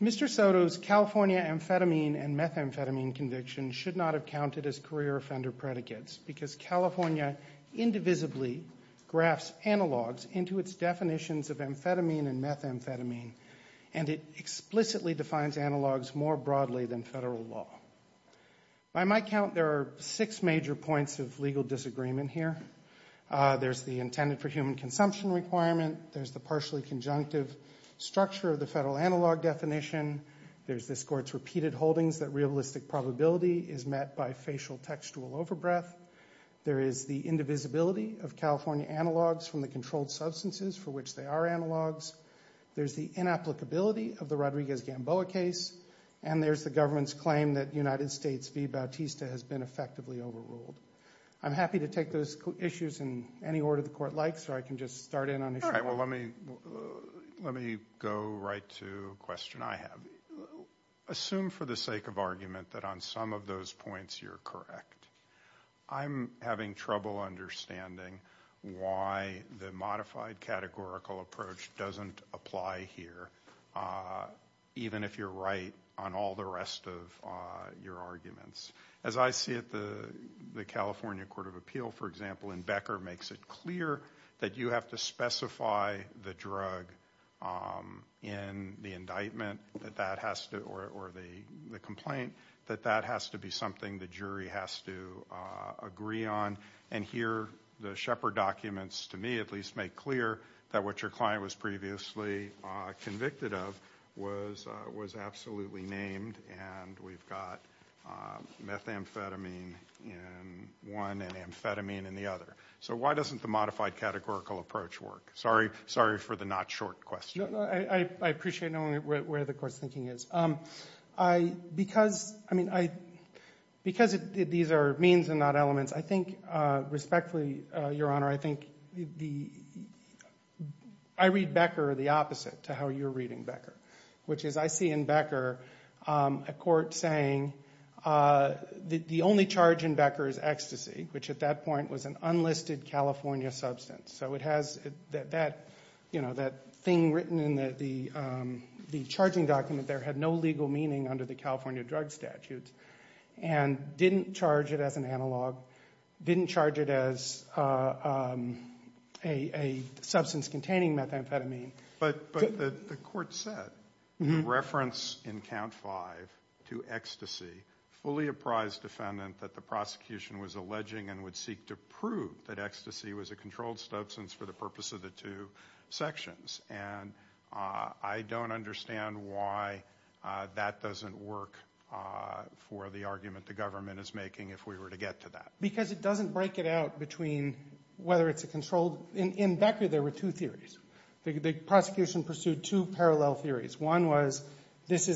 Mr. Soto's California amphetamine and methamphetamine conviction should not have counted as career offender predicates because California indivisibly graphs analogs into its definitions of amphetamine and methamphetamine, and it explicitly defines analogs more broadly than federal law. By my count, there are six major points of legal disagreement here. There's the intended for human consumption requirement. There's the partially conjunctive structure of the federal analog definition. There's this court's repeated holdings that realistic probability is met by facial textual overbreath. There is the indivisibility of California analogs from the controlled substances for which they are analogs. There's the inapplicability of the Rodriguez-Gamboa case, and there's the government's claim that United States v. Bautista has been effectively overruled. I'm happy to take those issues in any order the court likes, or I can just start in on issue one. All right, well, let me go right to a question I have. Assume for the sake of argument that on some of those points you're correct. I'm having trouble understanding why the modified categorical approach doesn't apply here, even if you're right on all the rest of your arguments. As I see it, the California Court of Appeal, for example, in Becker makes it clear that you have to specify the drug in the indictment or the complaint, that that has to be something the jury has to agree on. And here, the Shepard documents, to me at least, make clear that what your client was previously convicted of was absolutely named, and we've got methamphetamine in one and amphetamine in the other. So why doesn't the modified categorical approach work? Sorry for the not-short question. I appreciate knowing where the Court's thinking is. Because these are means and not elements, I think, respectfully, Your Honor, I read Becker the opposite to how you're reading Becker, which is I see in Becker a court saying the only charge in Becker is ecstasy, which at that point was an enlisted California substance. So it has that thing written in the charging document there had no legal meaning under the California drug statute, and didn't charge it as an analog, didn't charge it as a substance containing methamphetamine. But the court said, in reference in count five to ecstasy, fully apprised defendant that the prosecution was alleging and would seek to prove that ecstasy was a controlled substance for the purpose of the two sections. And I don't understand why that doesn't work for the argument the government is making if we were to get to that. Because it doesn't break it out between whether it's a controlled, in Becker there were two theories. The prosecution pursued two parallel theories. One was this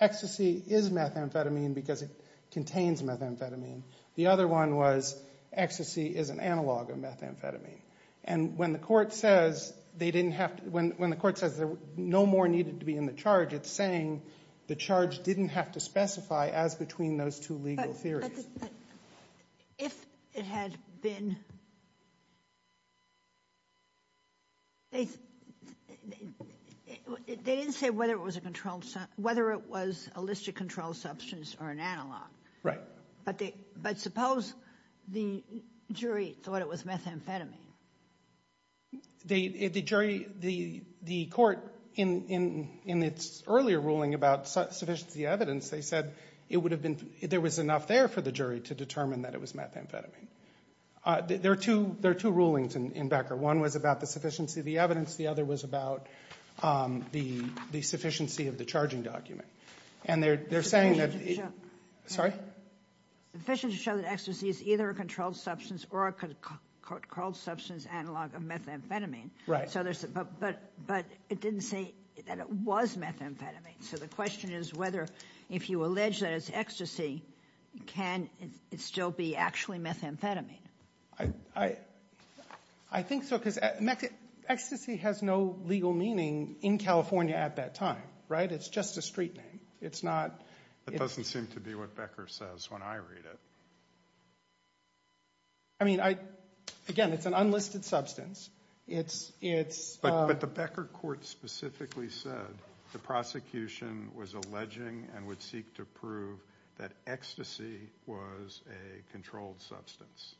ecstasy is methamphetamine because it contains methamphetamine. The other one was ecstasy is an analog of methamphetamine. And when the court says they didn't have to, when the court says no more needed to be in the charge, it's saying the charge didn't have to specify as between those two legal theories. Ginsburg. If it had been, they didn't say whether it was a controlled, whether it was a listed controlled substance or an analog. Right. But suppose the jury thought it was methamphetamine? The jury, the court, in its earlier ruling about sufficiency of evidence, they said it to determine that it was methamphetamine. There are two rulings in Becker. One was about the sufficiency of the evidence. The other was about the sufficiency of the charging document. And they're saying that, sorry? Sufficient to show that ecstasy is either a controlled substance or a controlled substance analog of methamphetamine. Right. But it didn't say that it was methamphetamine. So the question is whether if you allege that it's still be actually methamphetamine. I think so because ecstasy has no legal meaning in California at that time. Right? It's just a street name. It's not. It doesn't seem to be what Becker says when I read it. I mean, again, it's an unlisted substance. But the Becker court specifically said the prosecution was alleging and would seek to prove that ecstasy was a controlled substance.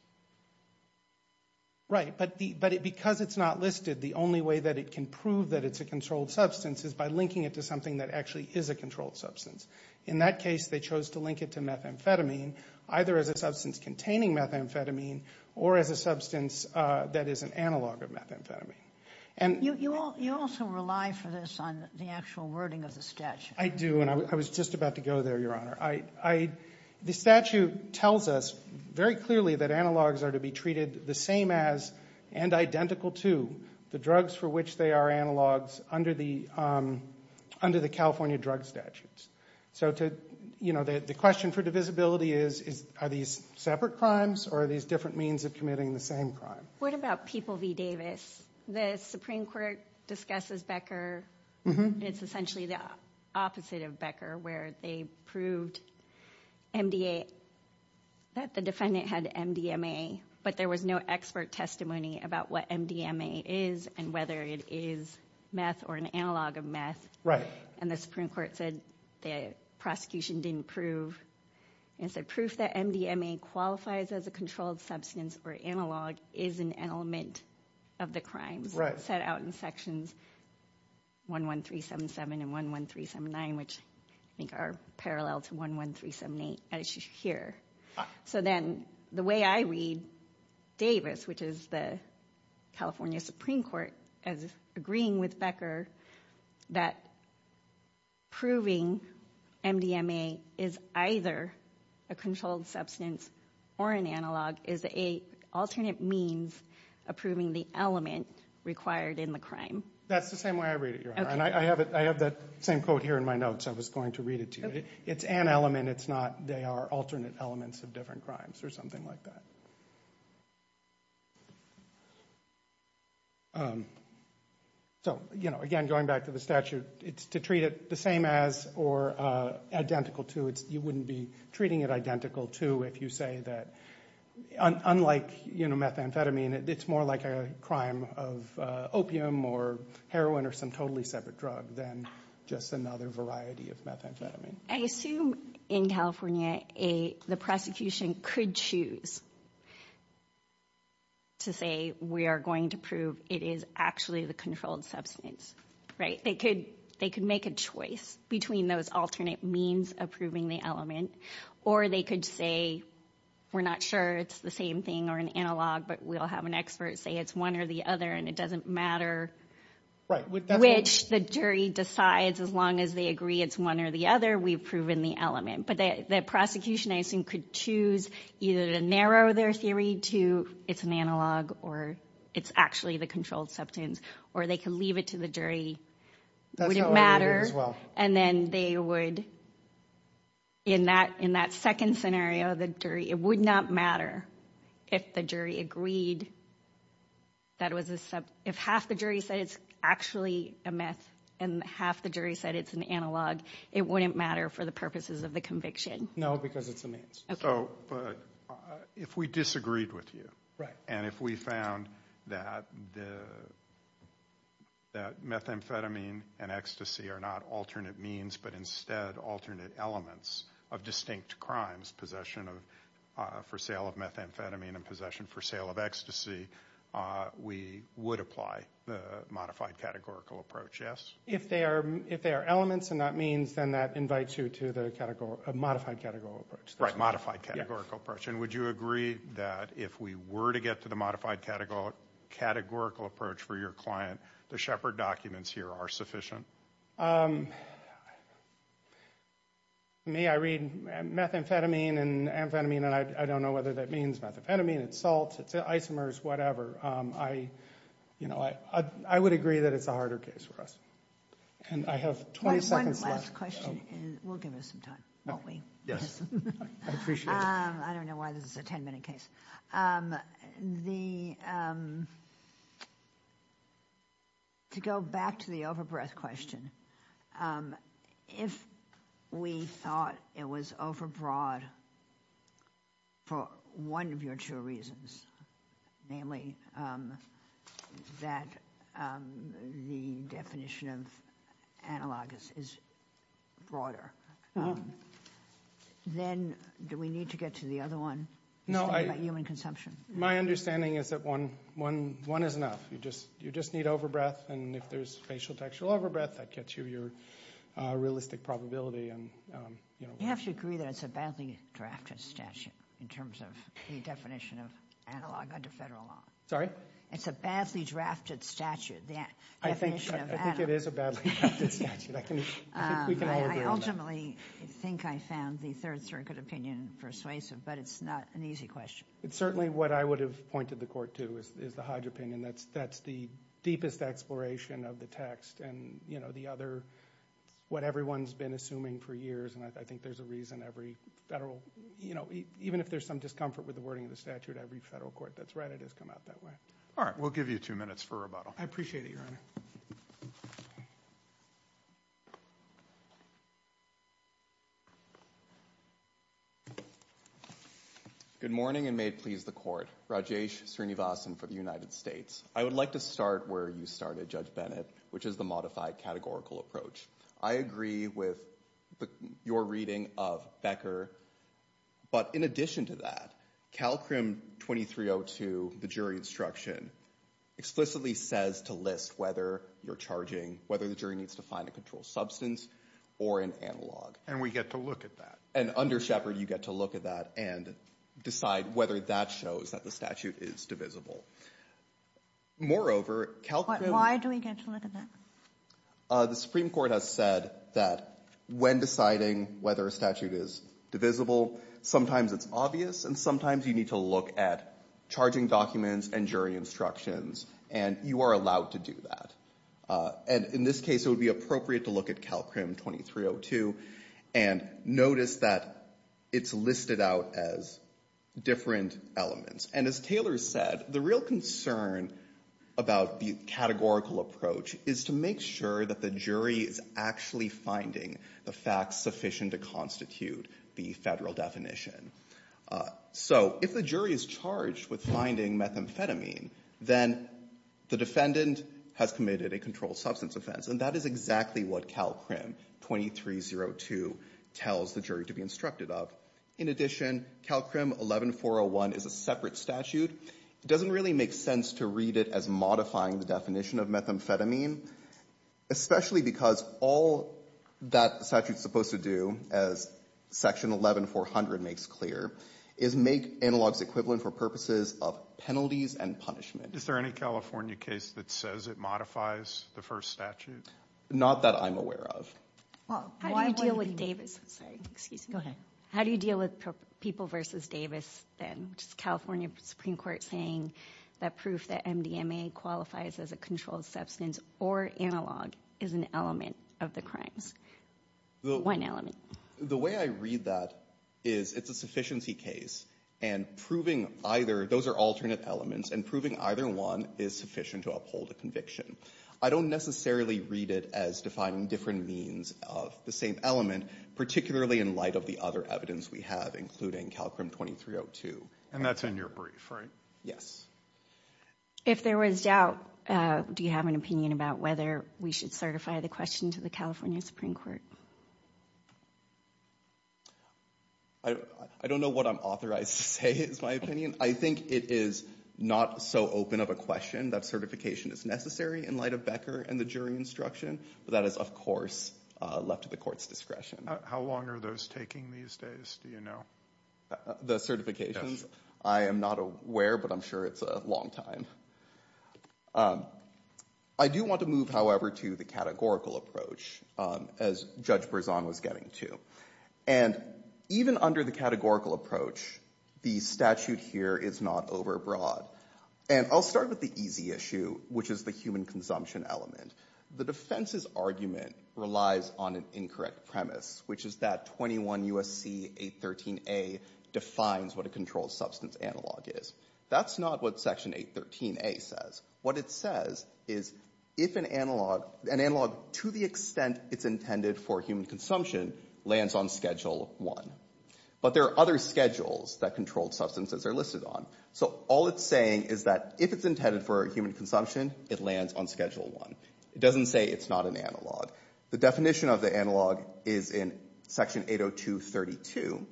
Right. But because it's not listed, the only way that it can prove that it's a controlled substance is by linking it to something that actually is a controlled substance. In that case, they chose to link it to methamphetamine, either as a substance containing methamphetamine or as a substance that is an analog of methamphetamine. And you also rely for this on the actual wording of the statute. I do. And I was just about to go there, Your Honor. The statute tells us very clearly that analogs are to be treated the same as and identical to the drugs for which they are analogs under the California drug statutes. So the question for divisibility is, are these separate crimes or are these different means of committing the same crime? What about people v. Davis? The Supreme Court discusses Becker. It's essentially the opposite of Becker, where they proved that the defendant had MDMA, but there was no expert testimony about what MDMA is and whether it is meth or an analog of meth. And the Supreme Court said the prosecution didn't prove and said proof that MDMA qualifies as a controlled substance or analog is an element of the crimes set out in sections 11377 and 11379, which I think are parallel to 11378 as you hear. So then the way I read Davis, which is the California Supreme Court, as agreeing with Becker that proving MDMA is either a controlled substance or an analog is an alternate means of proving the element required in the crime. That's the same way I read it, Your Honor. And I have that same quote here in my notes. I was going to read it to you. It's an element. It's not they are alternate elements of different crimes or something like that. So, you know, again, going back to the statute, it's to treat it the same as or identical to it. You wouldn't be treating it identical to if you say that unlike, you know, methamphetamine, it's more like a crime of opium or heroin or some totally separate drug than just another variety of methamphetamine. I assume in California, the prosecution could choose to say we are going to prove it is actually the controlled substance, right? They could make a choice between those alternate means of proving the element, or they could say, we're not sure it's the same thing or an analog, but we'll have an expert say it's one or the other, and it doesn't matter which the jury decides as long as they agree it's one or the other. We've proven the element. But the prosecution, I assume, could choose either to narrow their theory to it's an analog or it's actually the controlled substance, or they can leave it to the jury. It wouldn't matter. And then they would, in that second scenario, the jury, it would not matter if the jury agreed that was, if half the jury said it's actually a meth and half the jury said it's an analog, it wouldn't matter for the purposes of the conviction. No, because it's a means. So, but if we disagreed with you, and if we found that the, that methamphetamine and ecstasy are not alternate means, but instead alternate elements of distinct crimes, possession of, for sale of methamphetamine and possession for sale of ecstasy, we would apply the modified categorical approach, yes? If they are elements and not means, then that invites you to the modified categorical approach. Right, modified categorical approach. And would you agree that if we were to get to the modified categorical approach for your client, the Shepard documents here are sufficient? Me, I read methamphetamine and amphetamine, and I don't know whether that means methamphetamine, it's salt, it's isomers, whatever. You know, I would agree that it's a harder case for us. And I have 20 seconds left. One last question, and we'll give us some time, won't we? Yes, I appreciate it. I don't know why this is a 10 minute case. The, to go back to the overbreath question, if we thought it was overbroad for one of your two reasons, namely that the definition of analog is broader, then do we need to get to the other one? No, my understanding is that one is enough. You just need overbreath. And if there's facial textual overbreath, that gets you your realistic probability. And you have to agree that it's a badly drafted statute in terms of the definition of analog under federal law. It's a badly drafted statute. I think it is a badly drafted statute. I think we can all agree on that. I ultimately think I found the Third Circuit opinion persuasive, but it's not an easy question. It's certainly what I would have pointed the court to is the Hodge opinion. That's the deepest exploration of the text. And, you know, the other, what everyone's been assuming for years, and I think there's a reason every federal, you know, even if there's some discomfort with the wording of the statute, every federal court that's read it has come out that way. All right, we'll give you two minutes for rebuttal. I appreciate it, Your Honor. Good morning and may it please the court. Rajesh Srinivasan for the United States. I would like to start where you started, Judge Bennett, which is the modified categorical approach. I agree with your reading of Becker, but in addition to that, CalCrim 2302, the jury instruction, explicitly says to list whether you're charging, whether the jury needs to find a controlled substance or an analog. And we get to look at that. And under Shepard, you get to look at that and decide whether that shows that the statute is divisible. Moreover, CalCrim... Why do we get to look at that? The Supreme Court has said that when deciding whether a statute is divisible, sometimes it's obvious, and sometimes you need to look at charging documents and jury instructions, and you are allowed to do that. And in this case, it would be appropriate to look at CalCrim 2302 and notice that it's listed out as different elements. And as Taylor said, the real concern about the categorical approach is to make sure that the jury is actually finding the facts sufficient to constitute the federal definition. So if the jury is charged with finding methamphetamine, then the defendant has committed a controlled substance offense. And that is exactly what CalCrim 2302 tells the jury to be instructed of. In addition, CalCrim 11401 is a separate statute. It doesn't really make sense to read it as modifying the definition of methamphetamine, especially because all that statute is supposed to do, as Section 11400 makes clear, is make analogs equivalent for purposes of penalties and punishment. Is there any California case that says it modifies the first statute? Not that I'm aware of. Well, how do you deal with Davis? Sorry, excuse me. Go ahead. How do you deal with People v. Davis, then? Just California Supreme Court saying that proof that MDMA qualifies as a controlled substance or analog is an element of the crimes. One element. The way I read that is it's a sufficiency case. And proving either, those are alternate elements, and proving either one is sufficient to uphold a conviction. I don't necessarily read it as defining different means of the same element, particularly in light of the other evidence we have, including CalCrim 2302. And that's in your brief, right? Yes. If there was doubt, do you have an opinion about whether we should certify the question to the California Supreme Court? I don't know what I'm authorized to say is my opinion. I think it is not so open of a question that certification is necessary in light of Becker and the jury instruction, but that is, of course, left to the court's discretion. How long are those taking these days? Do you know? The certifications? I am not aware, but I'm sure it's a long time. I do want to move, however, to the categorical approach, as Judge Berzon was getting to. And even under the categorical approach, the statute here is not overbroad. And I'll start with the easy issue, which is the human consumption element. The defense's argument relies on an incorrect premise, which is that 21 U.S.C. 813A defines what a controlled substance analog is. That's not what Section 813A says. What it says is, if an analog, an analog to the extent it's intended for human consumption, lands on Schedule 1. But there are other schedules that controlled substances are listed on. So all it's saying is that if it's intended for human consumption, it lands on Schedule 1. It doesn't say it's not an analog. The definition of the analog is in Section 802.32,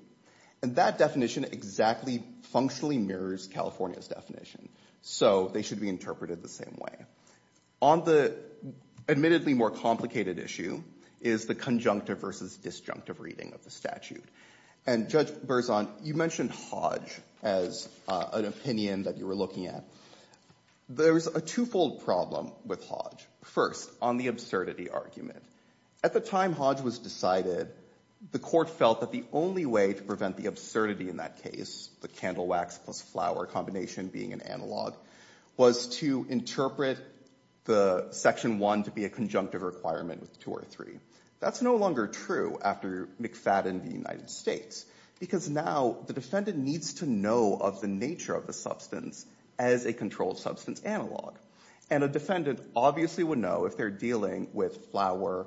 and that definition exactly functionally mirrors California's definition. So they should be interpreted the same way. On the admittedly more complicated issue is the conjunctive versus disjunctive reading of the statute. And, Judge Berzon, you mentioned Hodge as an opinion that you were looking at. There's a twofold problem with Hodge. First, on the absurdity argument. At the time Hodge was decided, the court felt that the only way to prevent the absurdity in that case, the candle wax plus flower combination being an analog, was to interpret the Section 1 to be a conjunctive requirement with 2 or 3. That's no longer true after McFadden v. United States, because now the defendant needs to know of the nature of the substance as a controlled substance analog. And a defendant obviously would know if they're dealing with flower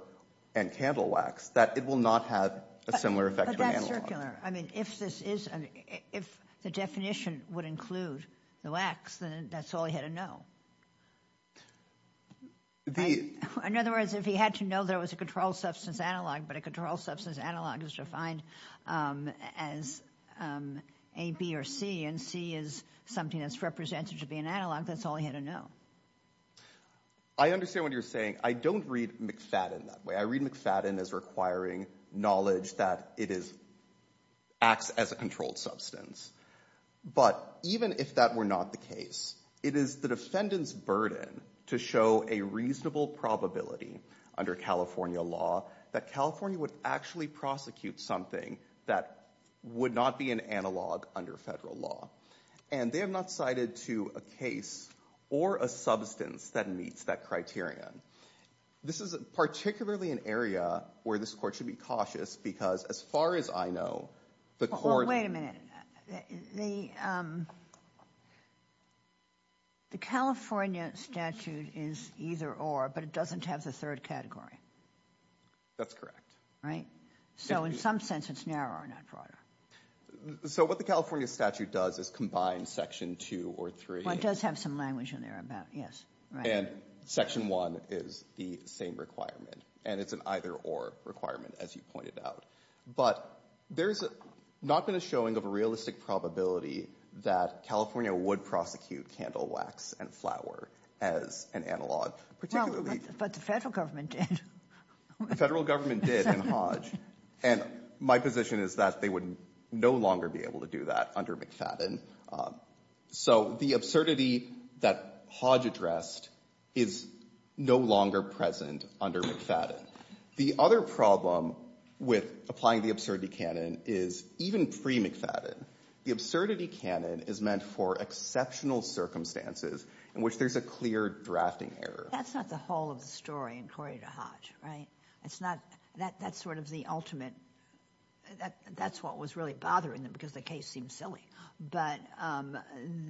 and candle wax, that it will not have a similar effect to an analog. But that's circular. I mean, if the definition would include the wax, then that's all he had to know. In other words, if he had to know there was a controlled substance analog, but a controlled substance analog is defined as A, B, or C, is something that's represented to be an analog, that's all he had to know. I understand what you're saying. I don't read McFadden that way. I read McFadden as requiring knowledge that it acts as a controlled substance. But even if that were not the case, it is the defendant's burden to show a reasonable probability under California law that California would actually prosecute something that would not be an analog under federal law. And they have not cited to a case or a substance that meets that criterion. This is particularly an area where this court should be cautious, because as far as I know, the court- Well, wait a minute. The California statute is either or, but it doesn't have the third category. That's correct. Right? So in some sense, it's narrower, not broader. So what the California statute does is combine section two or three- What does have some language in there about, yes, right. And section one is the same requirement, and it's an either or requirement, as you pointed out. But there's not been a showing of a realistic probability that California would prosecute candle wax and flour as an analog, particularly- But the federal government did. The federal government did in Hodge, and my position is that they would no longer be able to do that under McFadden. So the absurdity that Hodge addressed is no longer present under McFadden. The other problem with applying the absurdity canon is even pre-McFadden, the absurdity canon is meant for exceptional circumstances in which there's a clear drafting error. That's not the whole of the story in Corrie to Hodge, right? It's not, that's sort of the ultimate, that's what was really bothering them because the case seems silly. But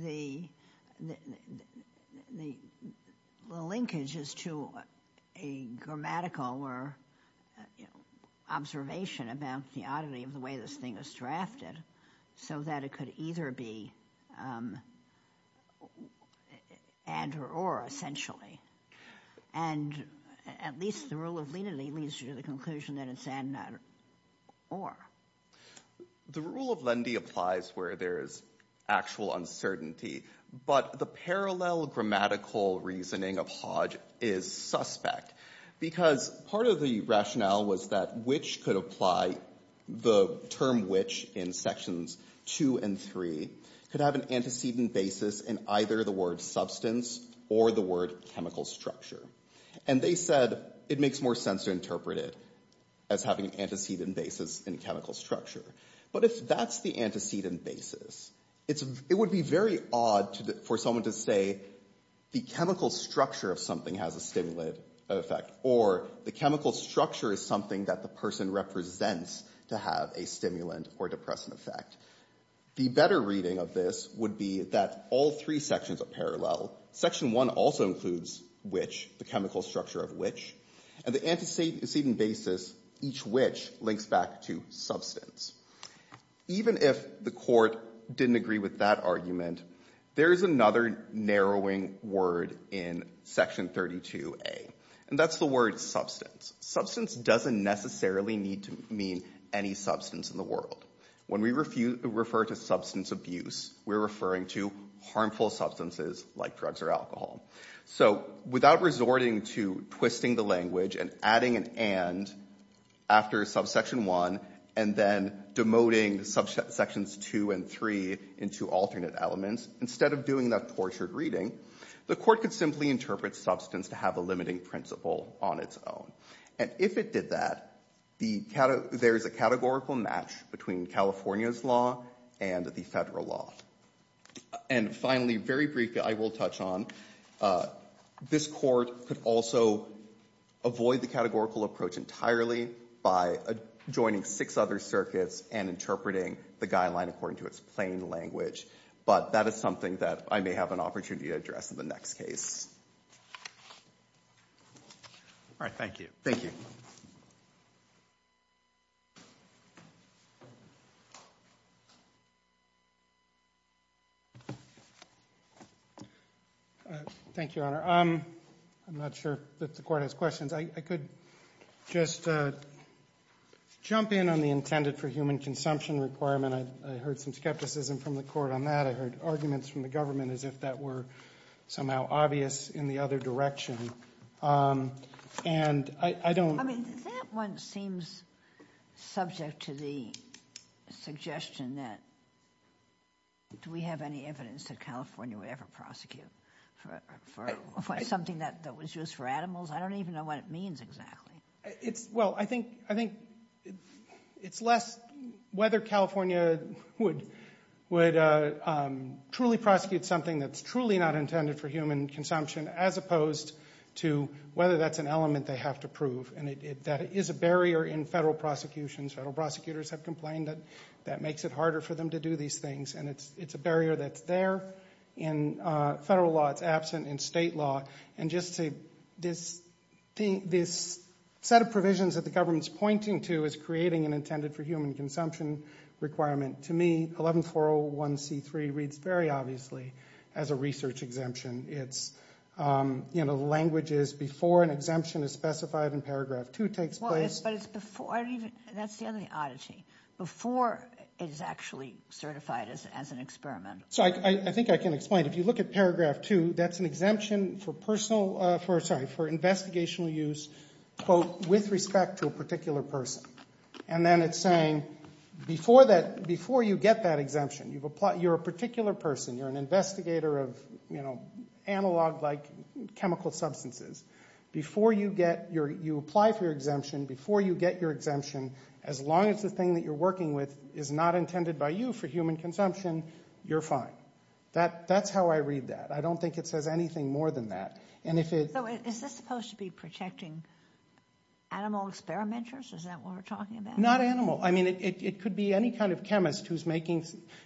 the linkage is to a grammatical or observation about the oddity of the way this thing was drafted, so that it could either be and or essentially. And at least the rule of lenity leads you to the conclusion that it's an or. The rule of lenity applies where there's actual uncertainty, but the parallel grammatical reasoning of Hodge is suspect because part of the rationale was that the term which in sections two and three could have an antecedent basis in either the word substance or the word chemical structure. And they said it makes more sense to interpret it as having an antecedent basis in chemical structure. But if that's the antecedent basis, it would be very odd for someone to say the chemical structure of something has a stimulant effect or the chemical structure is something that the person represents to have a stimulant or depressant effect. The better reading of this would be that all three sections are parallel. Section one also includes which, the chemical structure of which. And the antecedent basis, each which links back to substance. Even if the court didn't agree with that argument, there is another narrowing word in section 32a. And that's the word substance. Substance doesn't necessarily need to mean any substance in the world. When we refer to substance abuse, we're referring to harmful substances like drugs or alcohol. So without resorting to twisting the language and adding an and after subsection one and then demoting subsections two and three into alternate elements, instead of doing that tortured reading, the court could simply interpret substance to have a limiting principle on its own. And if it did that, there's a categorical match between California's law and the federal law. And finally, very briefly, I will touch on, this court could also avoid the categorical approach entirely by adjoining six other circuits and interpreting the guideline according to its plain language. But that is something that I may have an opportunity to address in the next case. All right. Thank you. Thank you. Thank you, Honor. I'm not sure that the court has questions. I could just jump in on the intended for human consumption requirement. I heard some skepticism from the court on that. I heard arguments from the government as if that were somehow obvious in the other direction. And I don't... I mean, that one seems subject to the suggestion that do we have any evidence that California would ever prosecute for something that was used for animals? I don't even know what it means exactly. Well, I think it's less whether California would truly prosecute something that's truly not intended for human consumption as opposed to whether that's an element they have to prove. And that is a barrier in federal prosecutions. Federal prosecutors have complained that that makes it harder for them to do these things. And it's a barrier that's there in federal law. It's absent in state law. And just to... This set of provisions that the government's pointing to is creating an intended for human consumption requirement. To me, 11401C3 reads very obviously as a research exemption. It's, you know, the language is before an exemption is specified in paragraph two takes place. But it's before... That's the other oddity. Before it is actually certified as an experiment. So I think I can explain. If you look at paragraph two, that's an exemption for personal... For... Sorry. For investigational use, quote, with respect to a particular person. And then it's saying before that... Before you get that exemption, you've applied... You're a particular person. You're an investigator of, you know, analog like chemical substances. Before you get your... You apply for your exemption. Before you get your exemption, as long as the thing that you're working with is not intended by you for human consumption, you're fine. That's how I read that. I don't think it says anything more than that. And if it... So is this supposed to be protecting animal experimenters? Is that what we're talking about? Not animal. I mean, it could be any kind of chemist who's making...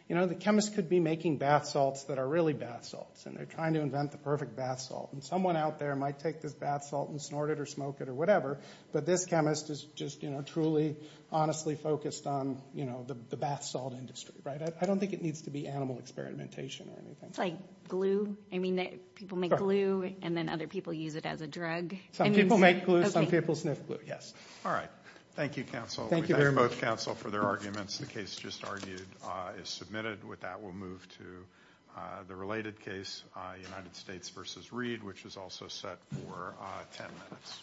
You know, the chemist could be making bath salts that are really bath salts. And they're trying to invent the perfect bath salt. And someone out there might take this bath salt and snort it or smoke it or whatever. But this chemist is just, you know, truly, honestly focused on, you know, the bath salt industry, right? I don't think it needs to be animal experimentation or anything. It's like glue. I mean, people make glue and then other people use it as a drug. Some people make glue. Some people sniff glue. All right. Thank you, counsel. Thank you very much. We thank both counsel for their arguments. The case just argued is submitted. With that, we'll move to the related case, United States versus Reed, which is also set for 10 minutes.